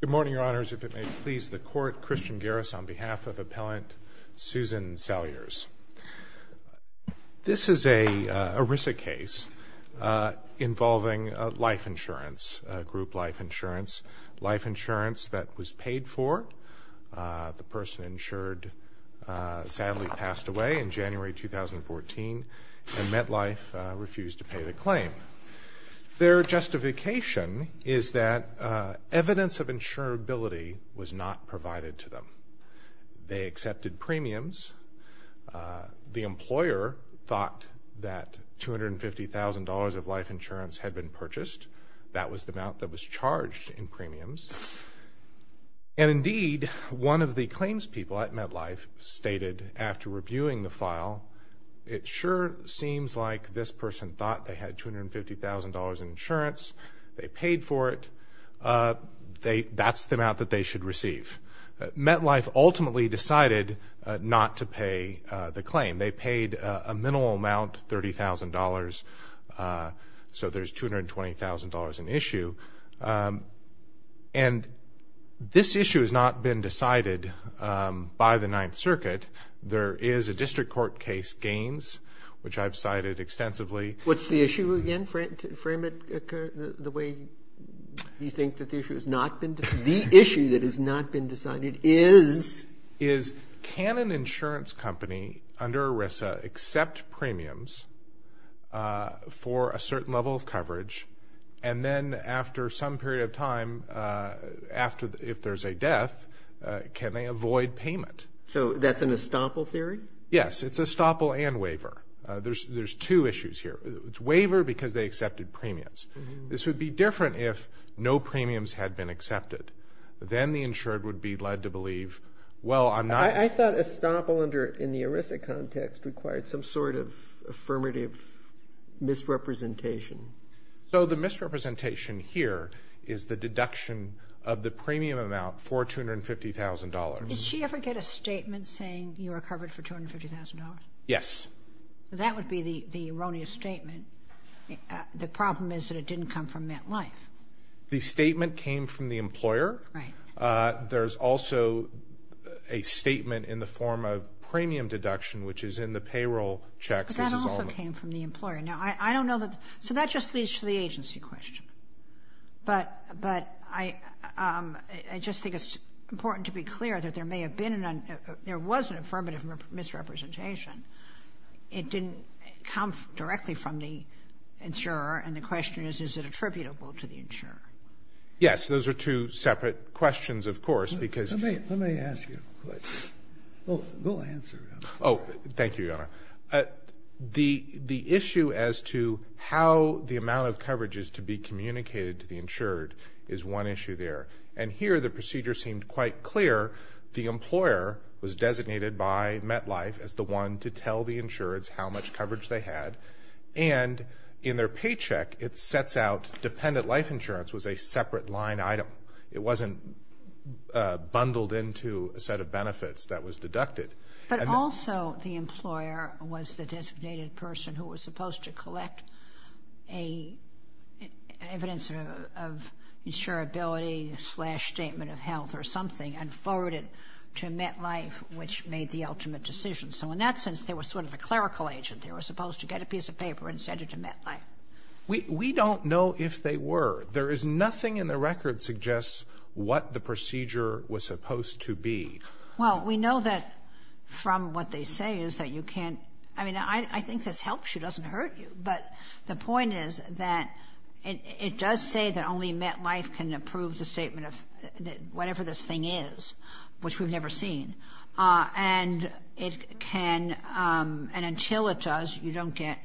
Good morning, Your Honors. If it may please the Court, Christian Garris on behalf of Appellant Susan Salyers. This is an ERISA case involving life insurance, group life insurance, life insurance that was paid for. The person insured sadly passed away in January 2014 and MetLife refused to pay the claim. Their justification is that evidence of insurability was not provided to them. They accepted premiums. The employer thought that $250,000 of life insurance had been purchased. That was the amount that was charged in premiums. And indeed, one of the person thought they had $250,000 in insurance. They paid for it. That's the amount that they should receive. MetLife ultimately decided not to pay the claim. They paid a minimal amount, $30,000, so there's $220,000 in issue. And this issue has not been decided by the What's the issue again? Frame it the way you think that the issue has not been decided. The issue that has not been decided is... Is can an insurance company under ERISA accept premiums for a certain level of coverage and then after some period of time, if there's a death, can they avoid payment? So that's an estoppel theory? Yes. It's estoppel and waiver. There's two issues here. It's waiver because they accepted premiums. This would be different if no premiums had been accepted. Then the insured would be led to believe, well, I'm not... I thought estoppel in the ERISA context required some sort of affirmative misrepresentation. So the misrepresentation here is the deduction of the premium amount for $250,000. Did she ever get a statement saying you were covered for $250,000? Yes. That would be the erroneous statement. The problem is that it didn't come from MetLife. The statement came from the employer. There's also a statement in the form of premium deduction, which is in the payroll checks. But that also came from the employer. Now, I don't know that... So that just leads to that there may have been an... There was an affirmative misrepresentation. It didn't come directly from the insurer. And the question is, is it attributable to the insurer? Yes. Those are two separate questions, of course, because... Let me ask you a question. We'll answer. Oh, thank you, Your Honor. The issue as to how the amount of coverage is to be communicated to the insured is one issue there. And here, the procedure seemed quite clear. The employer was designated by MetLife as the one to tell the insureds how much coverage they had. And in their paycheck, it sets out dependent life insurance was a separate line item. It wasn't bundled into a set of benefits that was deducted. But also the employer was the designated person who was supposed to collect evidence of a insurability-slash-statement-of-health or something and forward it to MetLife, which made the ultimate decision. So in that sense, they were sort of a clerical agent. They were supposed to get a piece of paper and send it to MetLife. We don't know if they were. There is nothing in the record that suggests what the procedure was supposed to be. Well, we know that from what they say is that you can't... I mean, I think this helps you, but the point is that it does say that only MetLife can approve the statement of whatever this thing is, which we've never seen. And it can... And until it does, you don't get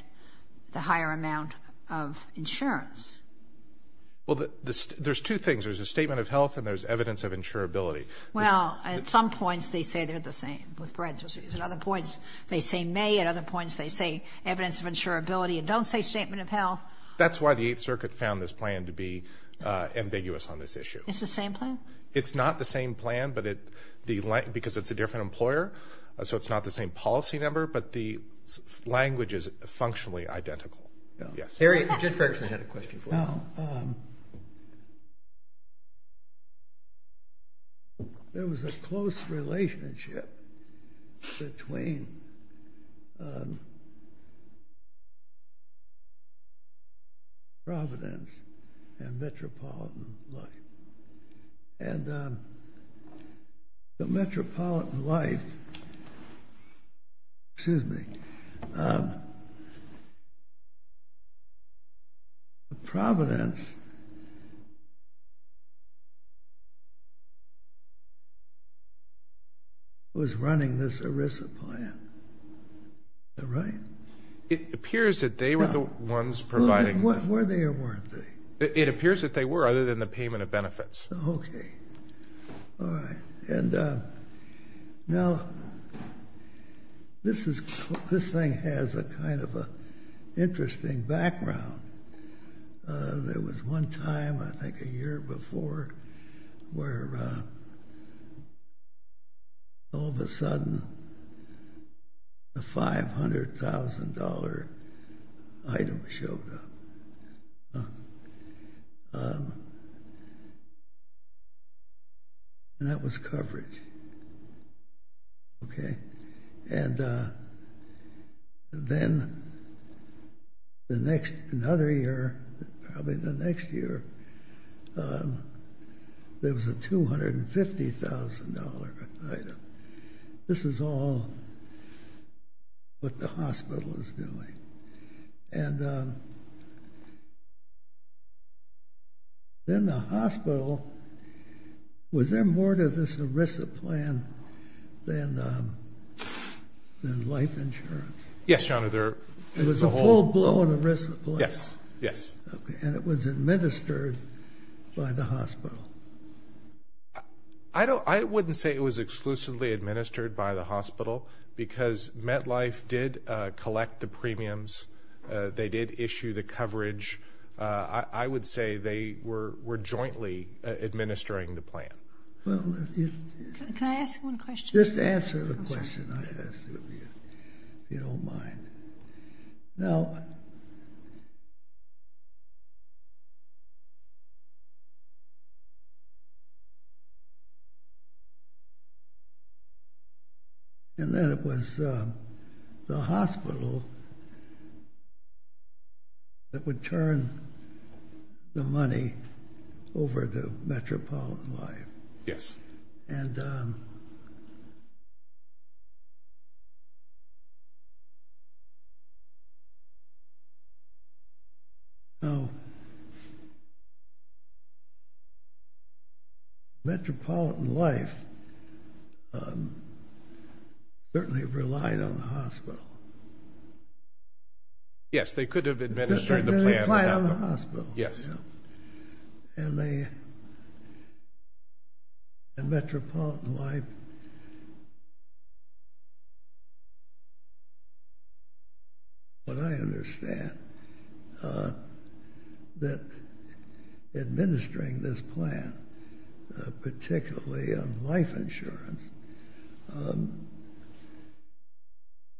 the higher amount of insurance. Well, there's two things. There's a statement of health and there's evidence of insurability. Well, at some points, they say they're the same, with parentheses. At other points, they say may. At other points, they say evidence of insurability and don't say statement of health. That's why the Eighth Circuit found this plan to be ambiguous on this issue. It's the same plan? It's not the same plan, but it... Because it's a different employer, so it's not the same policy number, but the language is functionally identical. Yes. Jerry, Jennifer actually had a question for you. There was a close relationship between Providence and metropolitan life. And the metropolitan life... Excuse me. Providence was running this ERISA plan. Is that right? It appears that they were the ones providing... Were they or weren't they? It appears that they were, other than the payment of benefits. Okay. All right. And now, this thing has a kind of an interesting background. There And that was coverage. And then, another year, probably the next year, there was a $250,000 item. This is all what the hospital is doing. And then, the hospital... Was there more to this ERISA plan than life insurance? Yes, Your Honor. There was a whole... It was a full-blown ERISA plan? Yes. Yes. Okay. And it was administered by the hospital? I wouldn't say it was exclusively administered by the hospital, because MetLife did collect the premiums. They did issue the coverage. I would say they were jointly administering the plan. Well, if you... Can I ask one question? Just answer the question I asked of you, if you don't mind. Now... And then, it was the hospital that would turn the money over to Metropolitan Life. Yes. And... Now... Metropolitan Life certainly relied on the hospital. Yes, they could have administered the plan without them. They relied on the hospital. Yes. And they... And Metropolitan Life... What I understand, that administering this plan, particularly on life insurance,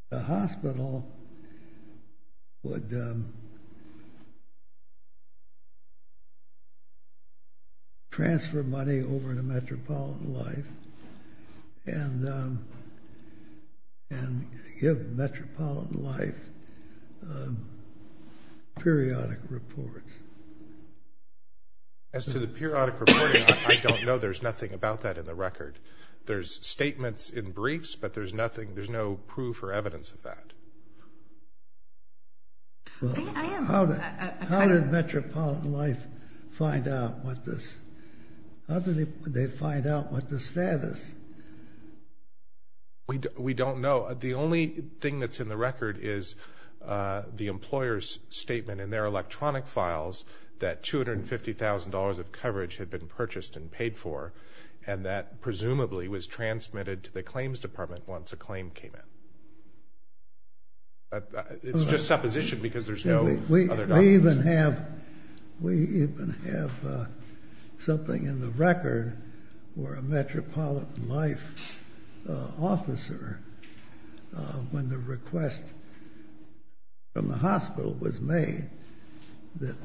the hospital would transfer money over to Metropolitan Life, and give Metropolitan Life periodic reports. As to the periodic reporting, I don't know. There's nothing about that in the record. There's statements in briefs, but there's nothing, there's no proof or evidence of that. I am... How did Metropolitan Life find out what this... How did they find out what the status... We don't know. The only thing that's in the record is the employer's statement in their electronic files that $250,000 of coverage had been purchased and paid for, and that presumably was transmitted to the claims department once a claim came in. It's just supposition because there's no other documents. We even have something in the record where a Metropolitan Life officer, when the request from the hospital was made, that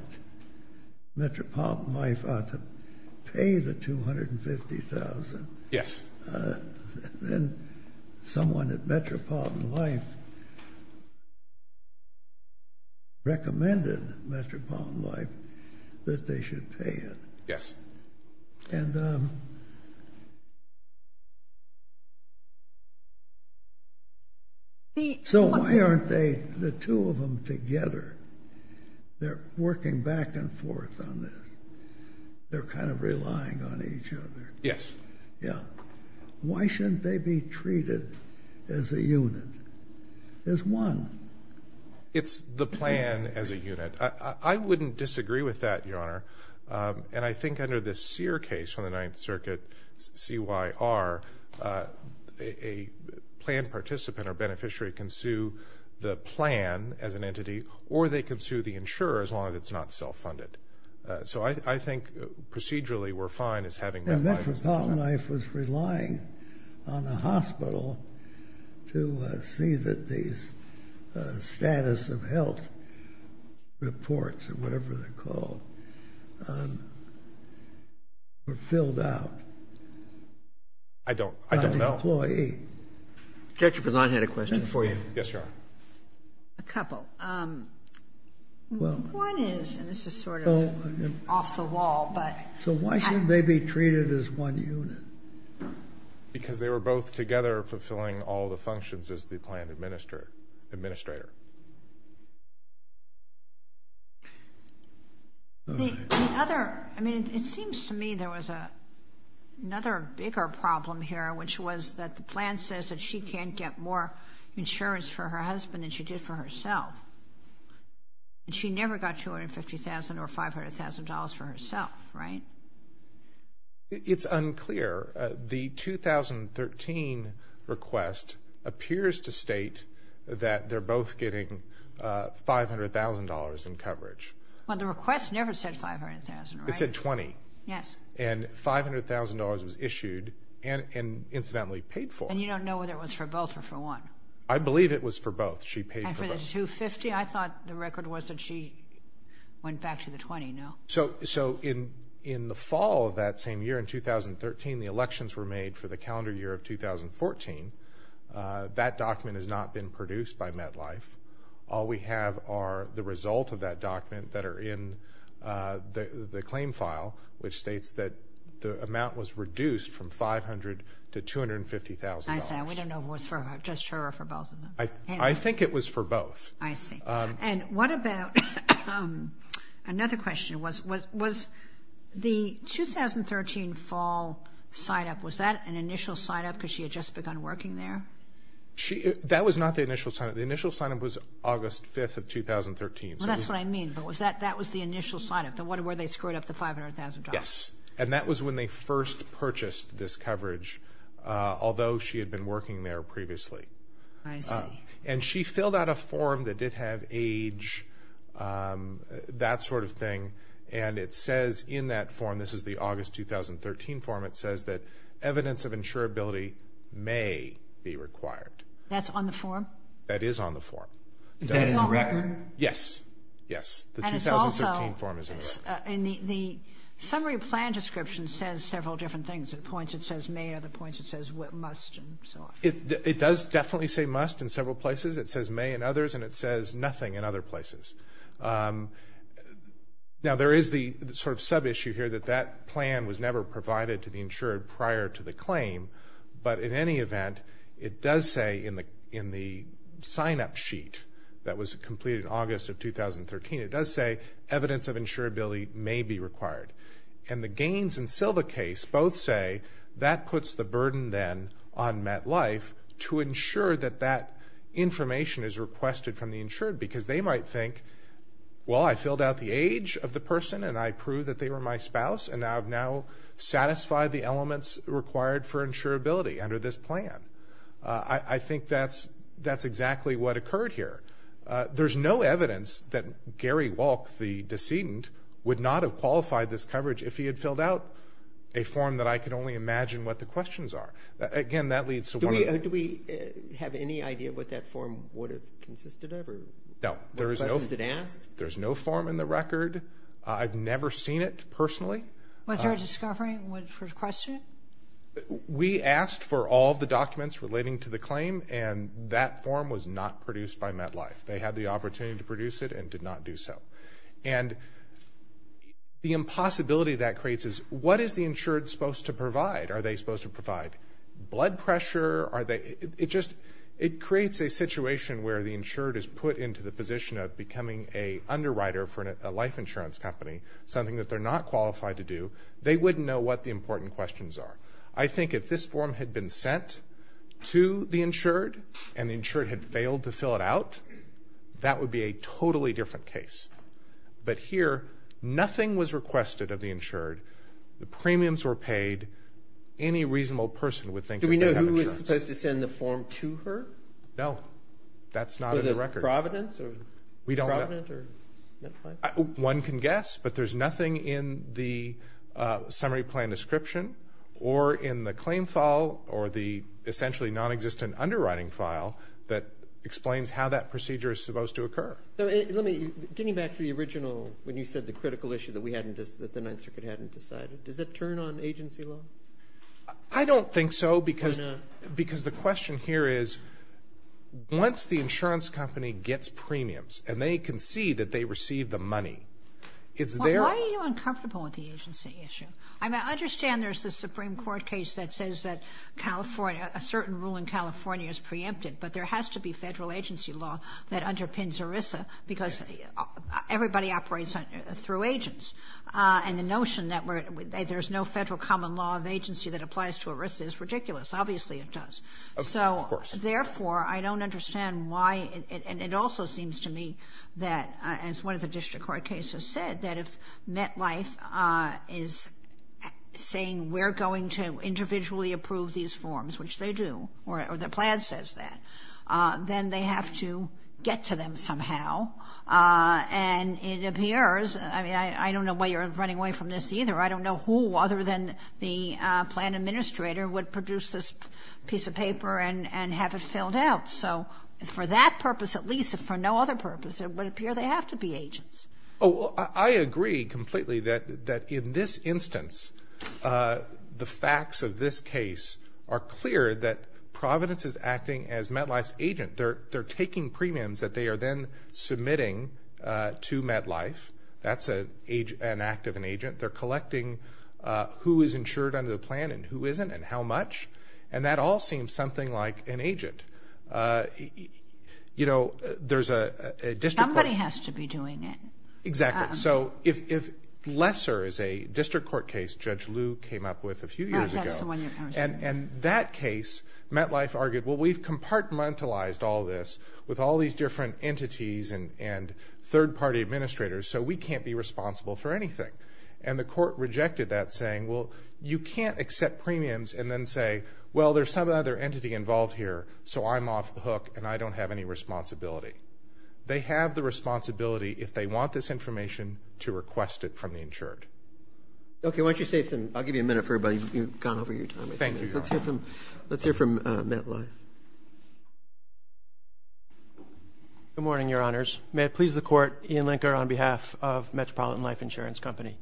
Metropolitan Life ought to pay the $250,000, then someone at Metropolitan Life recommended Metropolitan Life that they should pay it. Yes. And... So why aren't the two of them together? They're working back and forth on this. They're kind of relying on each other. Yes. Yeah. Why shouldn't they be treated as a unit, as one? It's the plan as a unit. I wouldn't disagree with that, Your Honor. And I think under this Sear case from the Ninth Circuit, CYR, a plan participant or beneficiary can sue the plan as an entity, or they can sue the insurer as long as it's not self-funded. So I think procedurally we're fine as having that liability. And Metropolitan Life was relying on the hospital to see that these status of health reports, or whatever they're called, were filled out. I don't know. By the employee. Judge Boulton had a question for you. Yes, Your Honor. A couple. Well... One is, and this is sort of off the wall, but... So why shouldn't they be treated as one unit? Because they were both together fulfilling all the functions as the plan administrator. The other... I mean, it seems to me there was another bigger problem here, which was that the plan says that she can't get more insurance for her husband than she did for herself. And she never got $250,000 or $500,000 for herself, right? It's unclear. The 2013 request appears to state that they're both getting $500,000 in coverage. Well, the request never said $500,000, right? It said $20,000. Yes. And $500,000 was issued and incidentally paid for. And you don't know whether it was for both or for one? I believe it was for both. She paid for both. And for the $250,000, I thought the record was that she went back to the $20,000, no? So in the fall of that same year, in 2013, the elections were made for the calendar year of 2014. That document has not been produced by MetLife. All we have are the results of that document that are in the claim file, which states that the amount was reduced from $500,000 to $250,000. I see. I don't know if it was just her or for both of them. I think it was for both. I see. And what about another question, was the 2013 fall sign-up, was that an initial sign-up because she had just begun working there? That was not the initial sign-up. The initial sign-up was August 5th of 2013. That's what I mean, but that was the initial sign-up, where they screwed up the $500,000. Yes. And that was when they first purchased this coverage, although she had been working there previously. I see. And she filled out a form that did have age, that sort of thing, and it says in that form, this is the August 2013 form, it says that evidence of insurability may be required. That's on the form? That is on the form. Is that in the record? Yes. Yes. The 2013 form is in the record. And the summary plan description says several different things. The points it says may are the points it says must and so on. It does definitely say must in several places. It says may in others, and it says nothing in other places. Now, there is the sort of sub-issue here that that plan was never provided to the insured prior to the claim, but in any event, it does say in the sign-up sheet that was completed in August of 2013, it does say evidence of insurability may be required. And the Gaines and Silva case both say that puts the burden then on MetLife to ensure that that information is requested from the insured because they might think, well, I filled out the age of the person and I proved that they were my spouse and I have now satisfied the elements required for insurability under this plan. I think that's exactly what occurred here. There's no evidence that Gary Walke, the decedent, would not have qualified this coverage if he had filled out a form that I could only imagine what the questions are. Again, that leads to one of the – Do we have any idea what that form would have consisted of or what questions it asked? No. There's no form in the record. I've never seen it personally. Was there a discovery for the question? We asked for all of the documents relating to the claim, and that form was not produced by MetLife. They had the opportunity to produce it and did not do so. And the impossibility that creates is what is the insured supposed to provide? Are they supposed to provide blood pressure? It creates a situation where the insured is put into the position of becoming an underwriter for a life insurance company, something that they're not qualified to do. They wouldn't know what the important questions are. I think if this form had been sent to the insured and the insured had failed to fill it out, that would be a totally different case. But here, nothing was requested of the insured. The premiums were paid. Any reasonable person would think that they have insurance. Do we know who was supposed to send the form to her? No. That's not in the record. Was it Providence or MetLife? One can guess, but there's nothing in the summary plan description or in the claim file or the essentially nonexistent underwriting file that explains how that procedure is supposed to occur. Getting back to the original when you said the critical issue that the Ninth Circuit hadn't decided, does that turn on agency law? I don't think so because the question here is once the insurance company gets premiums and they can see that they received the money, it's their own. Why are you uncomfortable with the agency issue? I understand there's the Supreme Court case that says that California, a certain rule in California is preempted, but there has to be federal agency law that underpins ERISA because everybody operates through agents. And the notion that there's no federal common law of agency that applies to ERISA is ridiculous. Obviously it does. Of course. Therefore, I don't understand why, and it also seems to me that as one of the district court cases said, that if MetLife is saying we're going to individually approve these forms, which they do, or the plan says that, then they have to get to them somehow. And it appears, I mean, I don't know why you're running away from this either. I don't know who other than the plan administrator would produce this piece of paper and have it filled out. So for that purpose at least, if for no other purpose, it would appear they have to be agents. I agree completely that in this instance, the facts of this case are clear that Providence is acting as MetLife's agent. They're taking premiums that they are then submitting to MetLife. That's an act of an agent. They're collecting who is insured under the plan and who isn't and how much. And that all seems something like an agent. You know, there's a district court. Somebody has to be doing it. Exactly. So if Lesser is a district court case Judge Liu came up with a few years ago. Right, that's the one you're talking about. And that case, MetLife argued, well, we've compartmentalized all this with all these different entities and third-party administrators, so we can't be responsible for anything. And the court rejected that, saying, well, you can't accept premiums and then say, well, there's some other entity involved here, so I'm off the hook and I don't have any responsibility. They have the responsibility, if they want this information, to request it from the insured. Okay, why don't you say something. I'll give you a minute for everybody. You've gone over your time. Thank you. Let's hear from MetLife. Good morning, Your Honors. May it please the Court, Ian Linker on behalf of Metropolitan Life Insurance Company.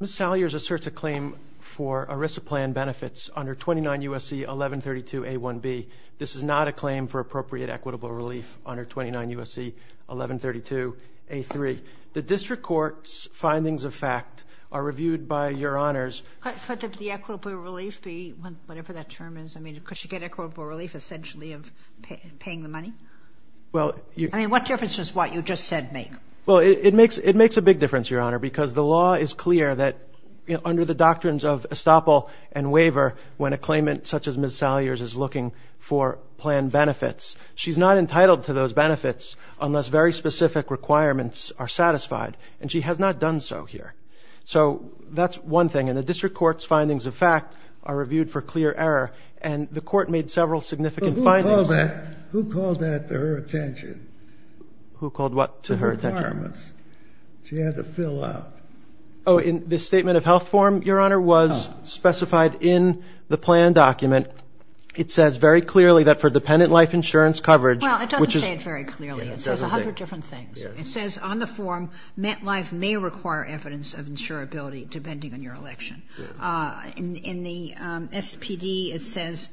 Ms. Salyers asserts a claim for ERISA plan benefits under 29 U.S.C. 1132a1b. This is not a claim for appropriate equitable relief under 29 U.S.C. 1132a3. The district court's findings of fact are reviewed by Your Honors. Could the equitable relief be whatever that term is? I mean, could she get equitable relief essentially of paying the money? I mean, what difference does what you just said make? Well, it makes a big difference, Your Honor, because the law is clear that under the doctrines of estoppel and waiver, when a claimant such as Ms. Salyers is looking for plan benefits, she's not entitled to those benefits unless very specific requirements are satisfied, and she has not done so here. So that's one thing. And the district court's findings of fact are reviewed for clear error, and the court made several significant findings. But who called that? Who called that to her attention? Who called what to her attention? The requirements she had to fill out. Oh, in the statement of health form, Your Honor, was specified in the plan document. It says very clearly that for dependent life insurance coverage, which is — No, it doesn't say it very clearly. It says a hundred different things. It says on the form, met life may require evidence of insurability depending on your election. In the SPD, it says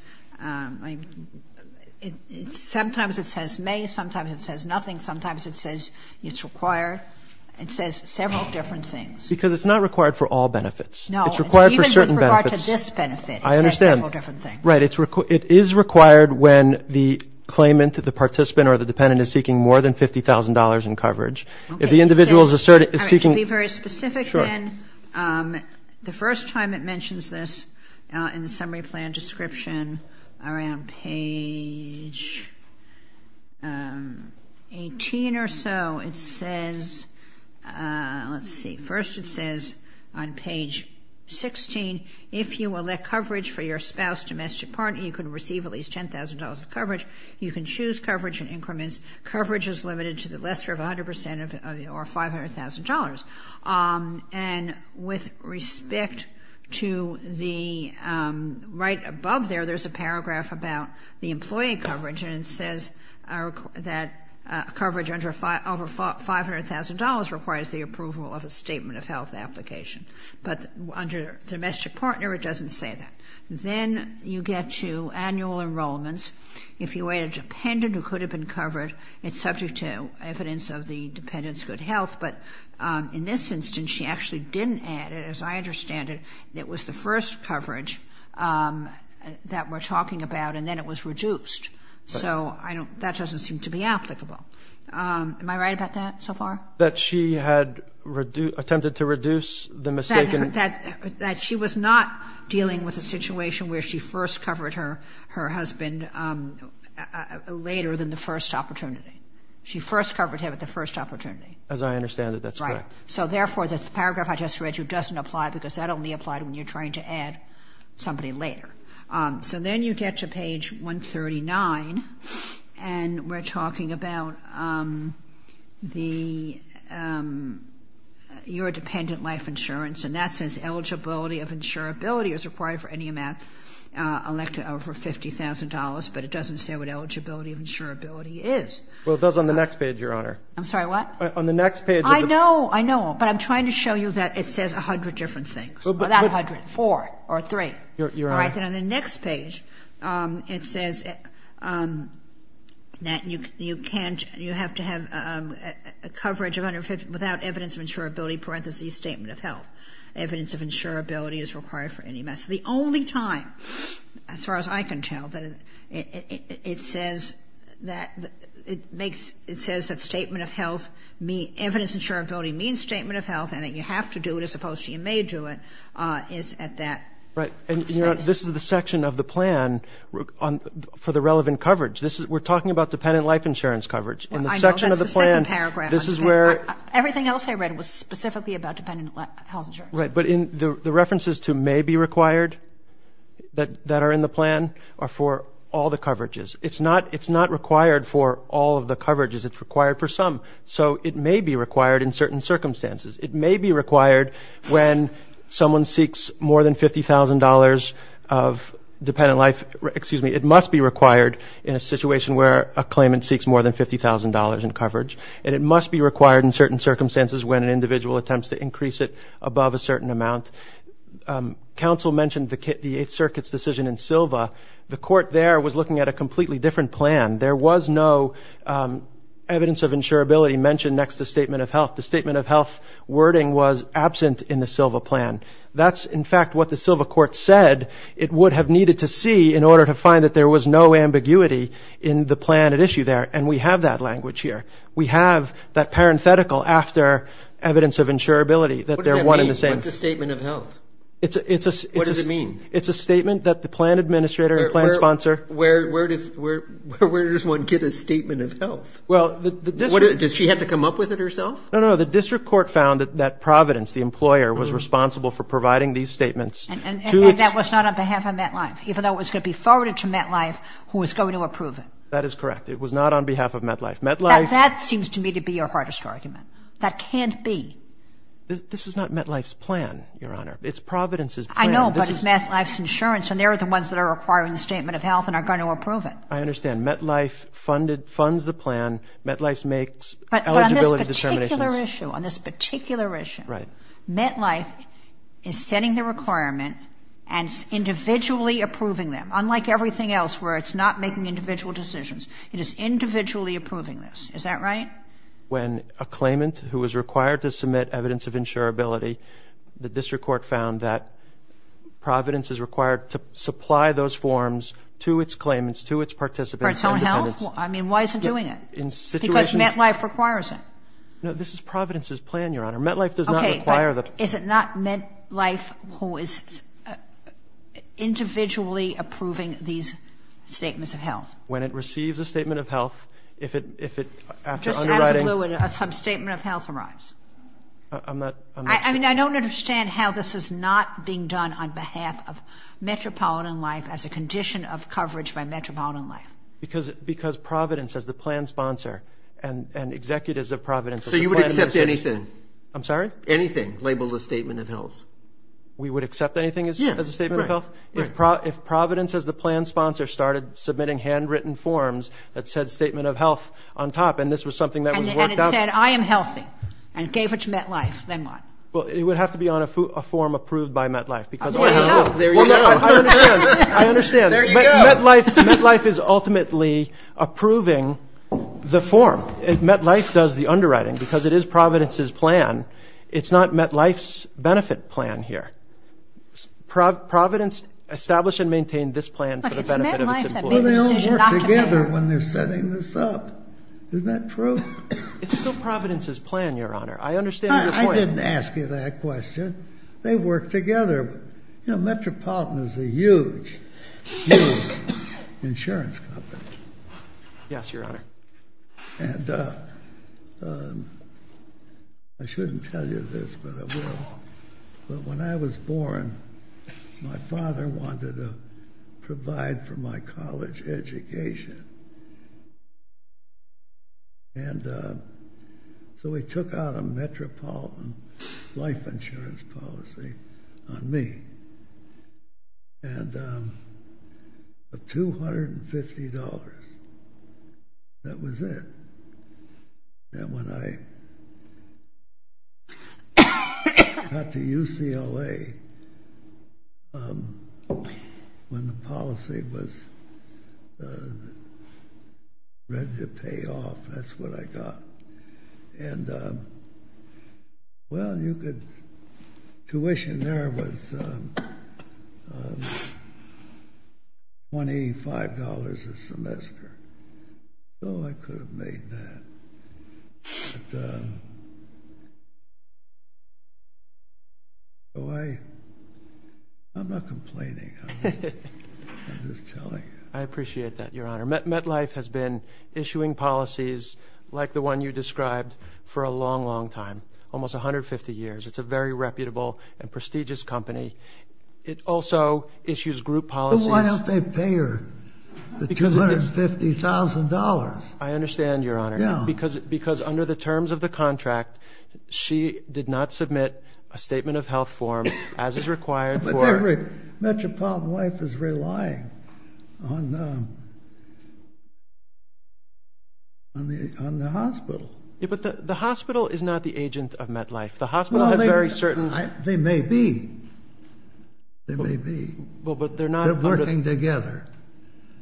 — sometimes it says may, sometimes it says nothing, sometimes it says it's required. It says several different things. Because it's not required for all benefits. No. It's required for certain benefits. Even with regard to this benefit, it says several different things. I understand. Right. It is required when the claimant, the participant, or the dependent is seeking more than $50,000 in coverage. If the individual is seeking — All right. Be very specific, then. Sure. The first time it mentions this in the summary plan description, around page 18 or so, it says — let's see. First, it says on page 16, if you elect coverage for your spouse, domestic partner, you can receive at least $10,000 of coverage. You can choose coverage in increments. Coverage is limited to the lesser of a hundred percent or $500,000. And with respect to the — right above there, there's a paragraph about the employee coverage, and it says that coverage over $500,000 requires the approval of a statement of health application. But under domestic partner, it doesn't say that. Then you get to annual enrollments. If you add a dependent who could have been covered, it's subject to evidence of the dependent's good health. But in this instance, she actually didn't add it. As I understand it, it was the first coverage that we're talking about, and then it was reduced. So I don't — that doesn't seem to be applicable. Am I right about that so far? That she had attempted to reduce the mistaken — That she was not dealing with a situation where she first covered her husband later than the first opportunity. She first covered him at the first opportunity. As I understand it, that's correct. Right. So therefore, the paragraph I just read you doesn't apply because that only applied when you're trying to add somebody later. So then you get to page 139, and we're talking about the — your dependent life insurance, and that says eligibility of insurability is required for any amount elected over $50,000, but it doesn't say what eligibility of insurability is. Well, it does on the next page, Your Honor. I'm sorry, what? On the next page of the — I know. I know. But I'm trying to show you that it says 100 different things. Well, but — Four or three. Your Honor. All right. Then on the next page, it says that you can't — you have to have coverage of 150 — without evidence of insurability, parentheses, statement of health. Evidence of insurability is required for any amount. So the only time, as far as I can tell, that it says that it makes — it says that statement of health means — evidence of insurability means statement of health, and that you have to do it as opposed to you may do it is at that — Right. And, Your Honor, this is the section of the plan for the relevant coverage. This is — we're talking about dependent life insurance coverage. In the section of the plan — I know. That's the second paragraph. This is where — Everything else I read was specifically about dependent health insurance. Right. But in — the references to may be required that are in the plan are for all the coverages. It's not — it's not required for all of the coverages. It's required for some. So it may be required in certain circumstances. It may be required when someone seeks more than $50,000 of dependent life — excuse me, it must be required in a situation where a claimant seeks more than $50,000 in coverage, and it must be required in certain circumstances when an individual attempts to increase it above a certain amount. Counsel mentioned the Eighth Circuit's decision in Silva. The court there was looking at a completely different plan. There was no evidence of insurability mentioned next to statement of health. The statement of health wording was absent in the Silva plan. That's, in fact, what the Silva court said it would have needed to see in order to find that there was no ambiguity in the plan at issue there. And we have that language here. We have that parenthetical after evidence of insurability that they're one and the same. What does that mean? What's a statement of health? It's a — What does it mean? It's a statement that the plan administrator and plan sponsor — Where does one get a statement of health? Well, the — Does she have to come up with it herself? No, no, no. The district court found that Providence, the employer, was responsible for providing these statements to its — And that was not on behalf of MetLife, even though it was going to be forwarded to MetLife, who was going to approve it. That is correct. It was not on behalf of MetLife. MetLife — Now, that seems to me to be your hardest argument. That can't be. This is not MetLife's plan, Your Honor. It's Providence's plan. I know, but it's MetLife's insurance, and they're the ones that are requiring the statement of health and are going to approve it. I understand. MetLife funded — funds the plan. MetLife makes eligibility determinations. But on this particular issue, on this particular issue — Right. — MetLife is setting the requirement and is individually approving them, unlike everything else where it's not making individual decisions. It is individually approving this. Is that right? When a claimant who is required to submit evidence of insurability, the district court found that Providence is required to supply those forms to its claimants, to its participants — For its own health? I mean, why isn't it doing it? Because MetLife requires it. No, this is Providence's plan, Your Honor. MetLife does not require the — Okay, but is it not MetLife who is individually approving these statements of health? When it receives a statement of health, if it, after underwriting — Just out of the blue, a sub-statement of health arrives. I'm not — I mean, I don't understand how this is not being done on behalf of metropolitan life as a condition of coverage by metropolitan life. Because Providence, as the plan sponsor and executives of Providence — So you would accept anything? I'm sorry? Anything labeled a statement of health? We would accept anything as a statement of health? Yeah, right. If Providence, as the plan sponsor, started submitting handwritten forms that said statement of health on top, and this was something that was worked out — And it said, I am healthy, and gave it to MetLife, then what? Well, it would have to be on a form approved by MetLife, because — Well, there you go. I understand. There you go. MetLife is ultimately approving the form. MetLife does the underwriting, because it is Providence's plan. It's not MetLife's benefit plan here. Providence established and maintained this plan for the benefit of its employees. Look, it's MetLife that made the decision not to pay. But they all work together when they're setting this up. Isn't that true? It's still Providence's plan, Your Honor. I understand your point. I didn't ask you that question. They work together. You know, Metropolitan is a huge, huge insurance company. Yes, Your Honor. And I shouldn't tell you this, but I will. But when I was born, my father wanted to provide for my college education. And so he took out a Metropolitan life insurance policy on me. And for $250, that was it. And when I got to UCLA, when the policy was ready to pay off, that's what I got. And, well, tuition there was $25 a semester. So I could have made that. So I'm not complaining. I'm just telling you. I appreciate that, Your Honor. MetLife has been issuing policies like the one you described for a long, long time, almost 150 years. It's a very reputable and prestigious company. It also issues group policies. Well, why don't they pay her the $250,000? I understand, Your Honor. Because under the terms of the contract, she did not submit a statement of health form, as is required for her. But Metropolitan Life is relying on the hospital. But the hospital is not the agent of MetLife. The hospital has very certain. They may be. They may be. They're working together.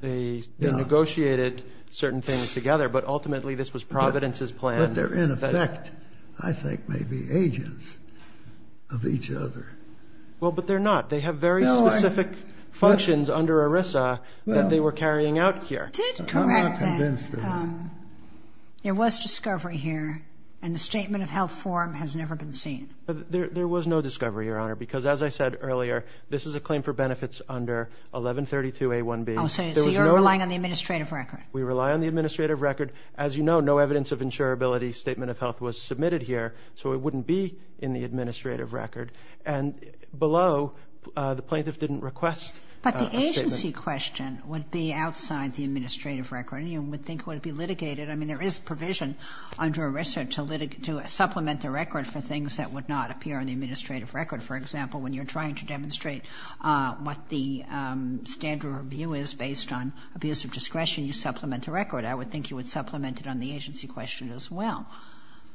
They negotiated certain things together, but ultimately this was Providence's plan. But they're in effect, I think, maybe agents of each other. Well, but they're not. They have very specific functions under ERISA that they were carrying out here. I'm not convinced of that. There was discovery here, and the statement of health form has never been seen. There was no discovery, Your Honor. Because, as I said earlier, this is a claim for benefits under 1132A1B. So you're relying on the administrative record. We rely on the administrative record. As you know, no evidence of insurability statement of health was submitted here, so it wouldn't be in the administrative record. And below, the plaintiff didn't request a statement. But the agency question would be outside the administrative record. You would think it would be litigated. I mean, there is provision under ERISA to supplement the record for things that would not appear in the administrative record. For example, when you're trying to demonstrate what the standard review is based on abuse of discretion, you supplement the record. I would think you would supplement it on the agency question as well.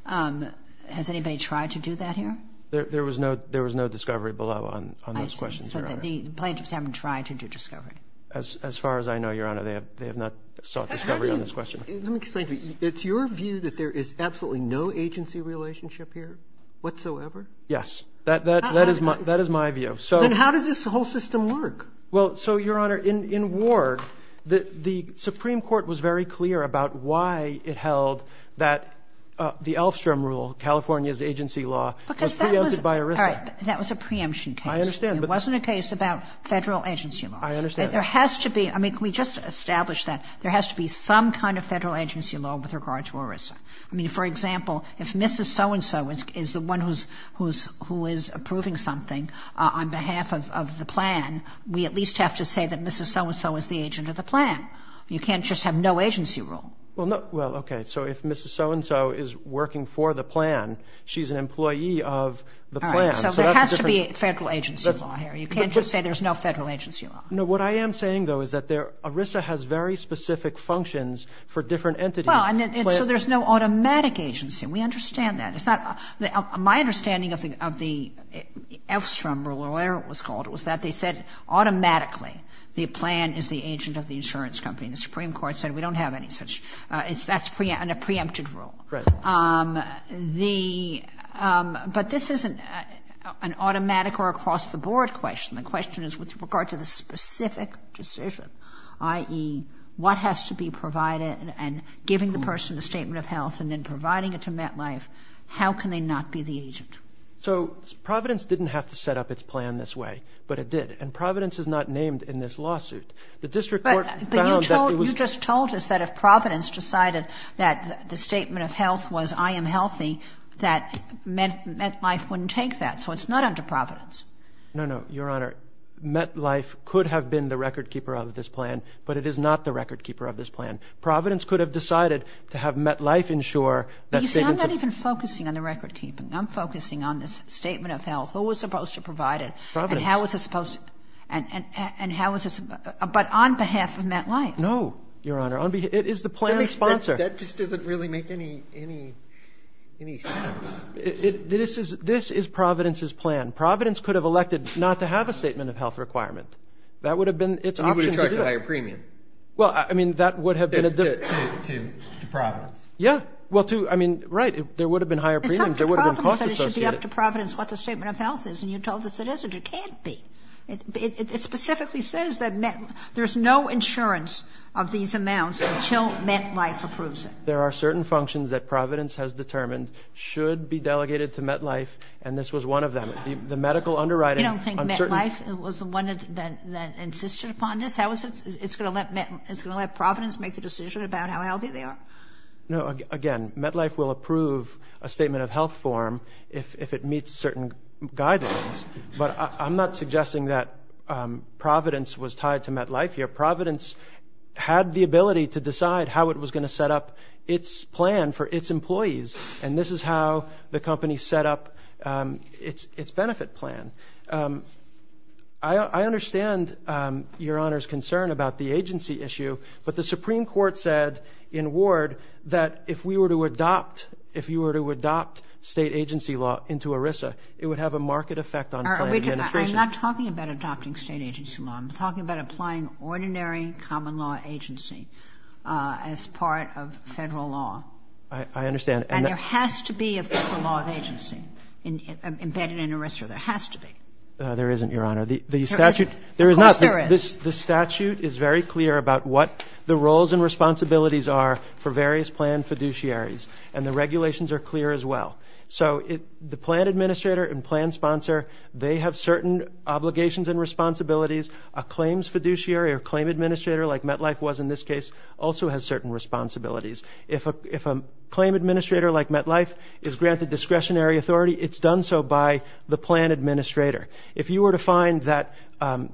Has anybody tried to do that here? There was no discovery below on those questions, Your Honor. So the plaintiffs haven't tried to do discovery. As far as I know, Your Honor, they have not sought discovery on this question. Let me explain to you. It's your view that there is absolutely no agency relationship here whatsoever? Yes. That is my view. Then how does this whole system work? Well, so, Your Honor, in Ward, the Supreme Court was very clear about why it held that the Elfstrom rule, California's agency law, was preempted by ERISA. All right. That was a preemption case. I understand. It wasn't a case about Federal agency law. I understand. Can we just establish that there has to be some kind of Federal agency law with regard to ERISA? I mean, for example, if Mrs. So-and-so is the one who is approving something on behalf of the plan, we at least have to say that Mrs. So-and-so is the agent of the plan. You can't just have no agency rule. Well, okay. So if Mrs. So-and-so is working for the plan, she's an employee of the plan. All right. So there has to be Federal agency law here. You can't just say there's no Federal agency law. No. What I am saying, though, is that ERISA has very specific functions for different entities. Well, and so there's no automatic agency. We understand that. It's not my understanding of the Elfstrom rule, or whatever it was called, was that they said automatically the plan is the agent of the insurance company. The Supreme Court said we don't have any such. That's a preempted rule. Right. But this isn't an automatic or across-the-board question. The question is with regard to the specific decision, i.e., what has to be provided and giving the person a statement of health and then providing it to MetLife, how can they not be the agent? So Providence didn't have to set up its plan this way, but it did. And Providence is not named in this lawsuit. The district court found that it was But you just told us that if Providence decided that the statement of health was I am healthy, that MetLife wouldn't take that. So it's not under Providence. No, no, Your Honor. MetLife could have been the record-keeper of this plan, but it is not the record-keeper of this plan. Providence could have decided to have MetLife ensure that statements of You see, I'm not even focusing on the record-keeping. I'm focusing on this statement of health. Who was supposed to provide it? Providence. And how was it supposed to? And how was it supposed to? But on behalf of MetLife. No, Your Honor. It is the plan's sponsor. That just doesn't really make any sense. This is Providence's plan. Providence could have elected not to have a statement of health requirement. That would have been its option to do it. And you would have charged a higher premium. Well, I mean, that would have been a difference. To Providence. Yeah. Well, to, I mean, right. There would have been higher premiums. It's up to Providence that it should be up to Providence what the statement of health is. And you told us it isn't. It can't be. It specifically says that there's no insurance of these amounts until MetLife approves it. There are certain functions that Providence has determined should be delegated to MetLife, and this was one of them. The medical underwriting. You don't think MetLife was the one that insisted upon this? It's going to let Providence make the decision about how healthy they are? No. Again, MetLife will approve a statement of health form if it meets certain guidelines. But I'm not suggesting that Providence was tied to MetLife here. Providence had the ability to decide how it was going to set up its plan for its employees. And this is how the company set up its benefit plan. I understand Your Honor's concern about the agency issue, but the Supreme Court said in Ward that if we were to adopt, if you were to adopt state agency law into ERISA, it would have a market effect on plan administration. I'm not talking about adopting state agency law. I'm talking about applying ordinary common law agency as part of federal law. I understand. And there has to be a federal law of agency embedded in ERISA. There has to be. There isn't, Your Honor. There isn't? Of course there is. The statute is very clear about what the roles and responsibilities are for various plan fiduciaries, and the regulations are clear as well. So the plan administrator and plan sponsor, they have certain obligations and responsibilities. A claims fiduciary or claim administrator like MetLife was in this case also has certain responsibilities. If a claim administrator like MetLife is granted discretionary authority, it's done so by the plan administrator. If you were to find that an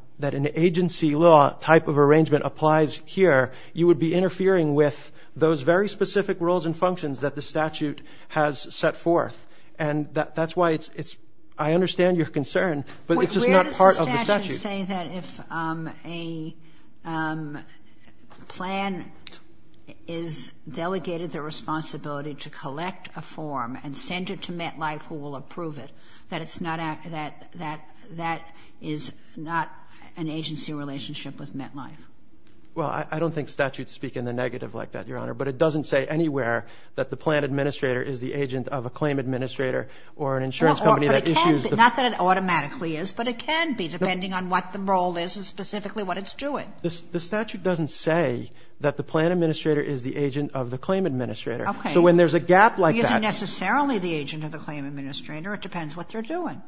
agency law type of arrangement applies here, you would be interfering with those very specific roles and functions that the statute has set forth. And that's why it's, I understand your concern, but it's just not part of the statute. I would say that if a plan is delegated the responsibility to collect a form and send it to MetLife, who will approve it, that it's not an agency relationship with MetLife. Well, I don't think statutes speak in the negative like that, Your Honor. But it doesn't say anywhere that the plan administrator is the agent of a claim administrator or an insurance company that issues the plan. It automatically is, but it can be depending on what the role is and specifically what it's doing. The statute doesn't say that the plan administrator is the agent of the claim administrator. Okay. So when there's a gap like that. He isn't necessarily the agent of the claim administrator. It depends what they're doing.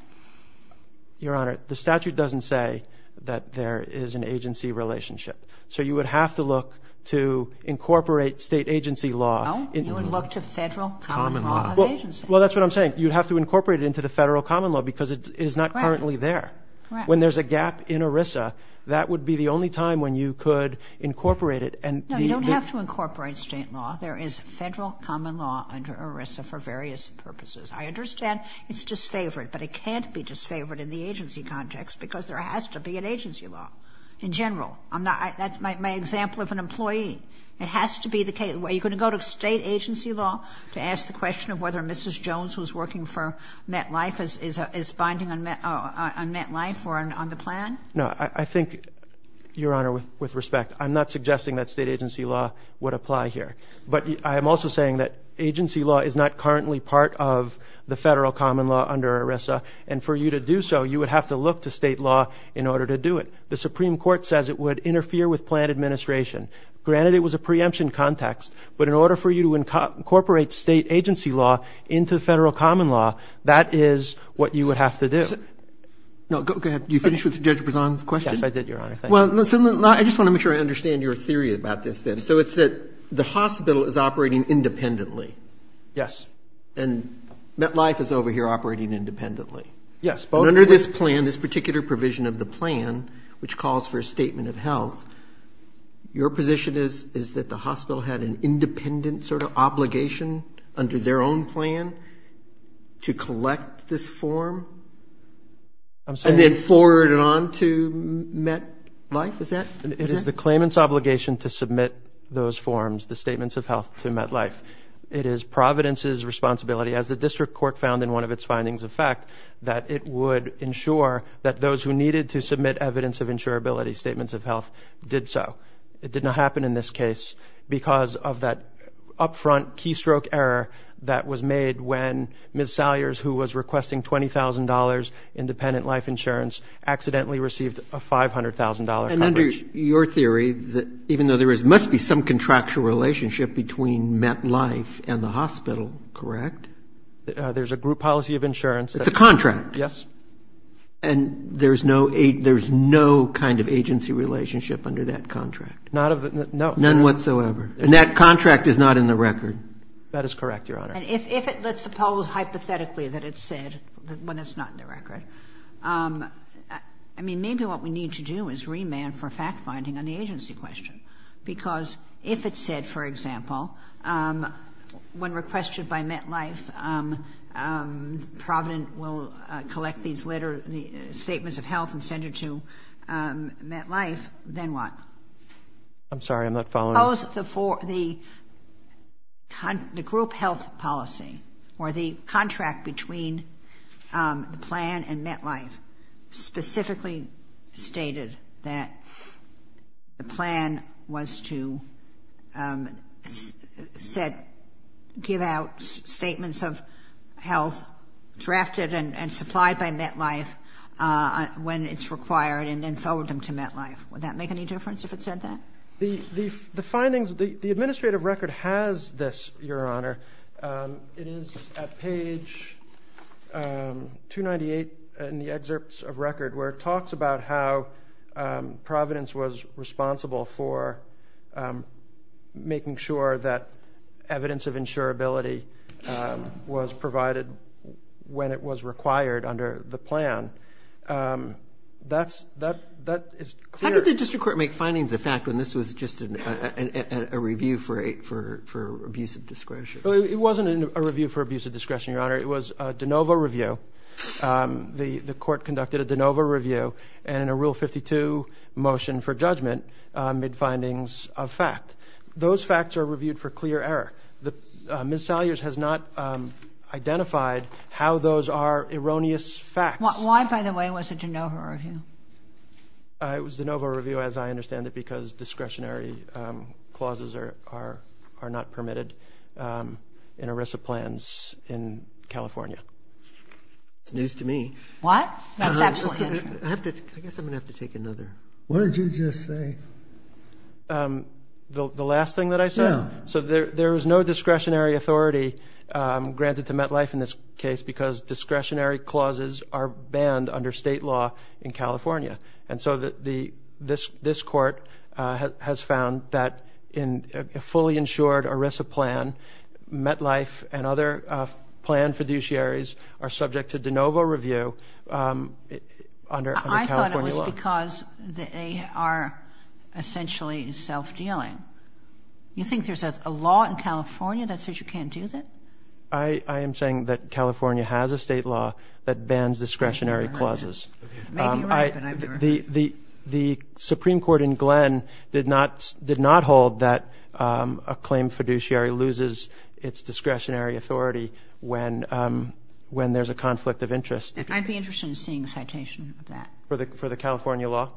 Your Honor, the statute doesn't say that there is an agency relationship. So you would have to look to incorporate state agency law. No, you would look to federal common law. Well, that's what I'm saying. You'd have to incorporate it into the federal common law because it is not currently there. When there's a gap in ERISA, that would be the only time when you could incorporate it. No, you don't have to incorporate state law. There is federal common law under ERISA for various purposes. I understand it's disfavored, but it can't be disfavored in the agency context because there has to be an agency law in general. That's my example of an employee. It has to be the case. Are you going to go to state agency law to ask the question of whether Mrs. Jones, who is working for MetLife, is binding on MetLife or on the plan? No. I think, Your Honor, with respect, I'm not suggesting that state agency law would apply here. But I am also saying that agency law is not currently part of the federal common law under ERISA. And for you to do so, you would have to look to state law in order to do it. The Supreme Court says it would interfere with plan administration. Granted, it was a preemption context. But in order for you to incorporate state agency law into the federal common law, that is what you would have to do. No, go ahead. Did you finish with Judge Brezon's question? Yes, I did, Your Honor. Thank you. Well, I just want to make sure I understand your theory about this then. So it's that the hospital is operating independently. Yes. And MetLife is over here operating independently. Yes. And under this plan, this particular provision of the plan, which calls for a statement of health, your position is that the hospital had an independent sort of obligation under their own plan to collect this form? And then forward it on to MetLife? Is that correct? It is the claimant's obligation to submit those forms, the statements of health, to MetLife. It is Providence's responsibility, as the district court found in one of its findings of fact, that it would ensure that those who needed to submit evidence of insurability statements of health did so. It did not happen in this case because of that upfront keystroke error that was made when Ms. Salyers, who was requesting $20,000 independent life insurance, accidentally received a $500,000 coverage. And under your theory, even though there must be some contractual relationship between MetLife and the hospital, correct? There's a group policy of insurance. It's a contract. Yes. And there's no kind of agency relationship under that contract? None whatsoever. And that contract is not in the record? That is correct, Your Honor. And if it, let's suppose hypothetically that it's said, when it's not in the record, I mean, maybe what we need to do is remand for fact-finding on the agency question, because if it's said, for example, when requested by MetLife, Providence will collect these later statements of health and send it to MetLife, then what? I'm sorry, I'm not following. Suppose the group health policy or the contract between the plan and MetLife specifically stated that the plan was to give out statements of health, drafted and supplied by MetLife when it's required, and then sold them to MetLife. Would that make any difference if it said that? The findings, the administrative record has this, Your Honor. It is at page 298 in the excerpts of record where it talks about how Providence was responsible for making sure that evidence of insurability was provided when it was required under the plan. That is clear. Did the district court make findings of fact when this was just a review for abuse of discretion? It wasn't a review for abuse of discretion, Your Honor. It was a de novo review. The court conducted a de novo review and in a Rule 52 motion for judgment made findings of fact. Those facts are reviewed for clear error. Ms. Salyers has not identified how those are erroneous facts. Why, by the way, was it a de novo review? It was a de novo review as I understand it because discretionary clauses are not permitted in ERISA plans in California. It's news to me. What? I guess I'm going to have to take another. What did you just say? The last thing that I said? Yeah. So there is no discretionary authority granted to MetLife in this case because discretionary clauses are banned under state law in California. And so this court has found that in a fully insured ERISA plan, MetLife and other plan fiduciaries are subject to de novo review under California law. I thought it was because they are essentially self-dealing. You think there's a law in California that says you can't do that? I am saying that California has a state law that bans discretionary clauses. It may be right, but I've never heard it. The Supreme Court in Glenn did not hold that a claimed fiduciary loses its discretionary authority when there's a conflict of interest. I'd be interested in seeing a citation of that. For the California law?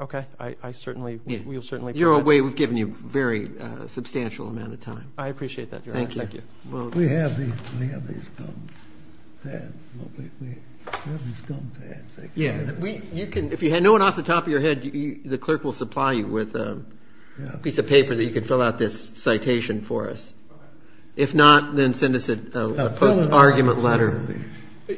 Okay. I certainly will certainly point that out. You're away. We've given you a very substantial amount of time. I appreciate that, Your Honor. Thank you. We have these gum pads. We have these gum pads. Yeah. If you had no one off the top of your head, the clerk will supply you with a piece of paper that you can fill out this citation for us. Okay. If not, then send us a post-argument letter.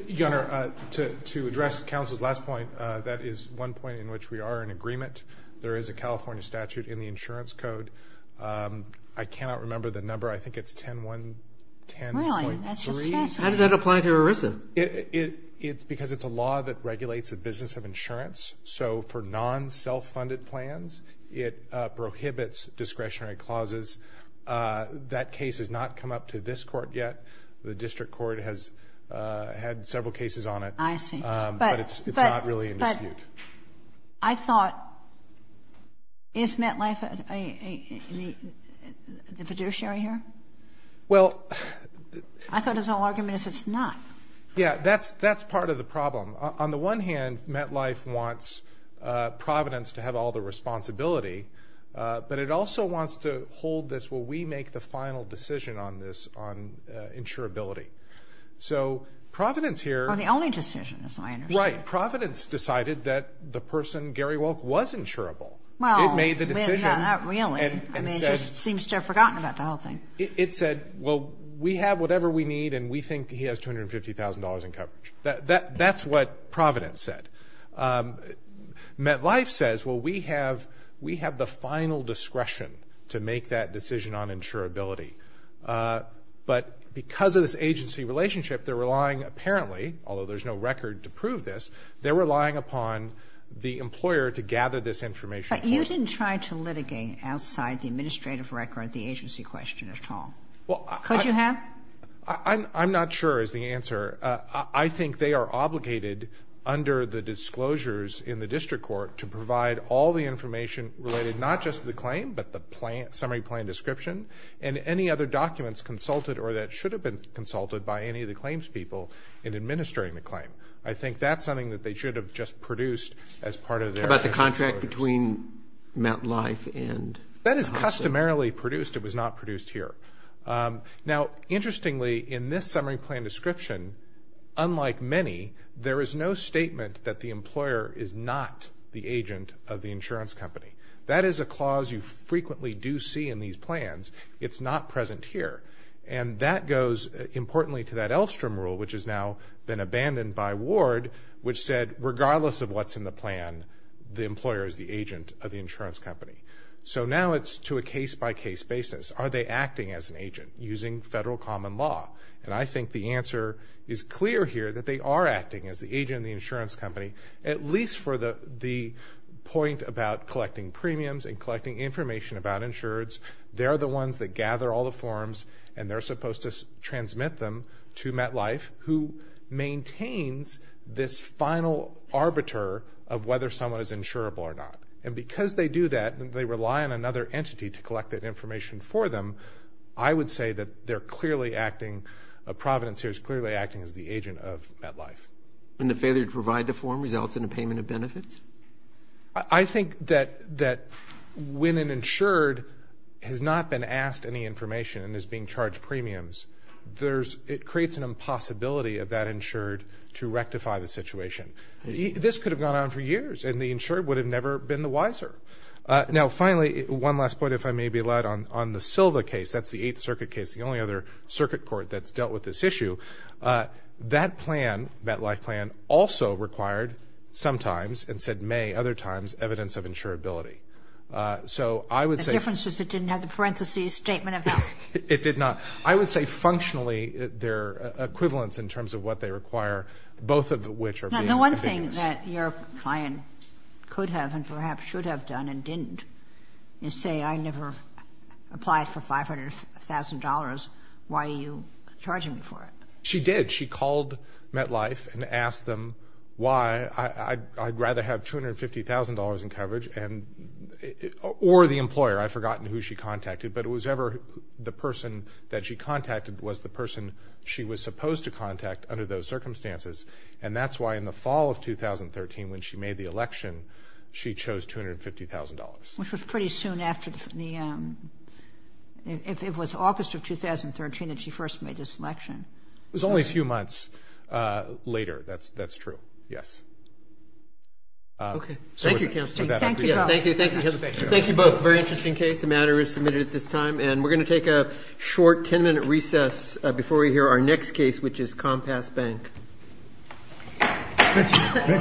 Your Honor, to address counsel's last point, that is one point in which we are in agreement. There is a California statute in the insurance code. I cannot remember the number. I think it's 10-1-10.3. Really? That's just fascinating. How does that apply to ERISA? It's because it's a law that regulates the business of insurance. So for non-self-funded plans, it prohibits discretionary clauses. That case has not come up to this Court yet. The district court has had several cases on it. I see. But it's not really in dispute. I thought, is MetLife the fiduciary here? Well. I thought his whole argument is it's not. Yeah, that's part of the problem. On the one hand, MetLife wants Providence to have all the responsibility, but it also wants to hold this where we make the final decision on this on insurability. So Providence here. Or the only decision, as I understand it. That's right. Providence decided that the person, Gary Wolk, was insurable. Well. It made the decision. Not really. I mean, it just seems to have forgotten about the whole thing. It said, well, we have whatever we need, and we think he has $250,000 in coverage. That's what Providence said. MetLife says, well, we have the final discretion to make that decision on insurability. But because of this agency relationship, they're relying apparently, although there's no record to prove this, they're relying upon the employer to gather this information for them. But you didn't try to litigate outside the administrative record the agency question at all. Well, I. Could you have? I'm not sure is the answer. I think they are obligated under the disclosures in the district court to provide all the information related not just to the claim but the summary plan description and any other documents consulted or that should have been consulted by any of the claims people in administering the claim. I think that's something that they should have just produced as part of their. How about the contract between MetLife and? That is customarily produced. It was not produced here. Now, interestingly, in this summary plan description, unlike many, there is no statement that the employer is not the agent of the insurance company. That is a clause you frequently do see in these plans. It's not present here. And that goes, importantly, to that Elfstrom rule, which has now been abandoned by Ward, which said regardless of what's in the plan, the employer is the agent of the insurance company. So now it's to a case-by-case basis. Are they acting as an agent using federal common law? And I think the answer is clear here that they are acting as the agent of the insurance company, at least for the point about collecting premiums and collecting information about insurers. They're the ones that gather all the forms, and they're supposed to transmit them to MetLife, who maintains this final arbiter of whether someone is insurable or not. And because they do that and they rely on another entity to collect that information for them, I would say that they're clearly acting, Providence here is clearly acting as the agent of MetLife. And the failure to provide the form results in a payment of benefits? I think that when an insured has not been asked any information and is being charged premiums, it creates an impossibility of that insured to rectify the situation. This could have gone on for years, and the insured would have never been the wiser. Now, finally, one last point, if I may be allowed, on the Silva case. That's the Eighth Circuit case, the only other circuit court that's dealt with this issue. That plan, MetLife plan, also required sometimes, and said may other times, evidence of insurability. So I would say... The difference is it didn't have the parentheses statement of health. It did not. I would say functionally they're equivalents in terms of what they require, both of which are being evidence. Now, the one thing that your client could have and perhaps should have done and didn't You say I never applied for $500,000. Why are you charging me for it? She did. She called MetLife and asked them why I'd rather have $250,000 in coverage or the employer. I've forgotten who she contacted, but it was ever the person that she contacted was the person she was supposed to contact under those circumstances. And that's why in the fall of 2013, when she made the election, she chose $250,000. Which was pretty soon after the... It was August of 2013 that she first made this election. It was only a few months later. That's true. Yes. Okay. Thank you, counsel. Thank you. Thank you both. Very interesting case. The matter is submitted at this time. And we're going to take a short 10-minute recess before we hear our next case, which is Compass Bank.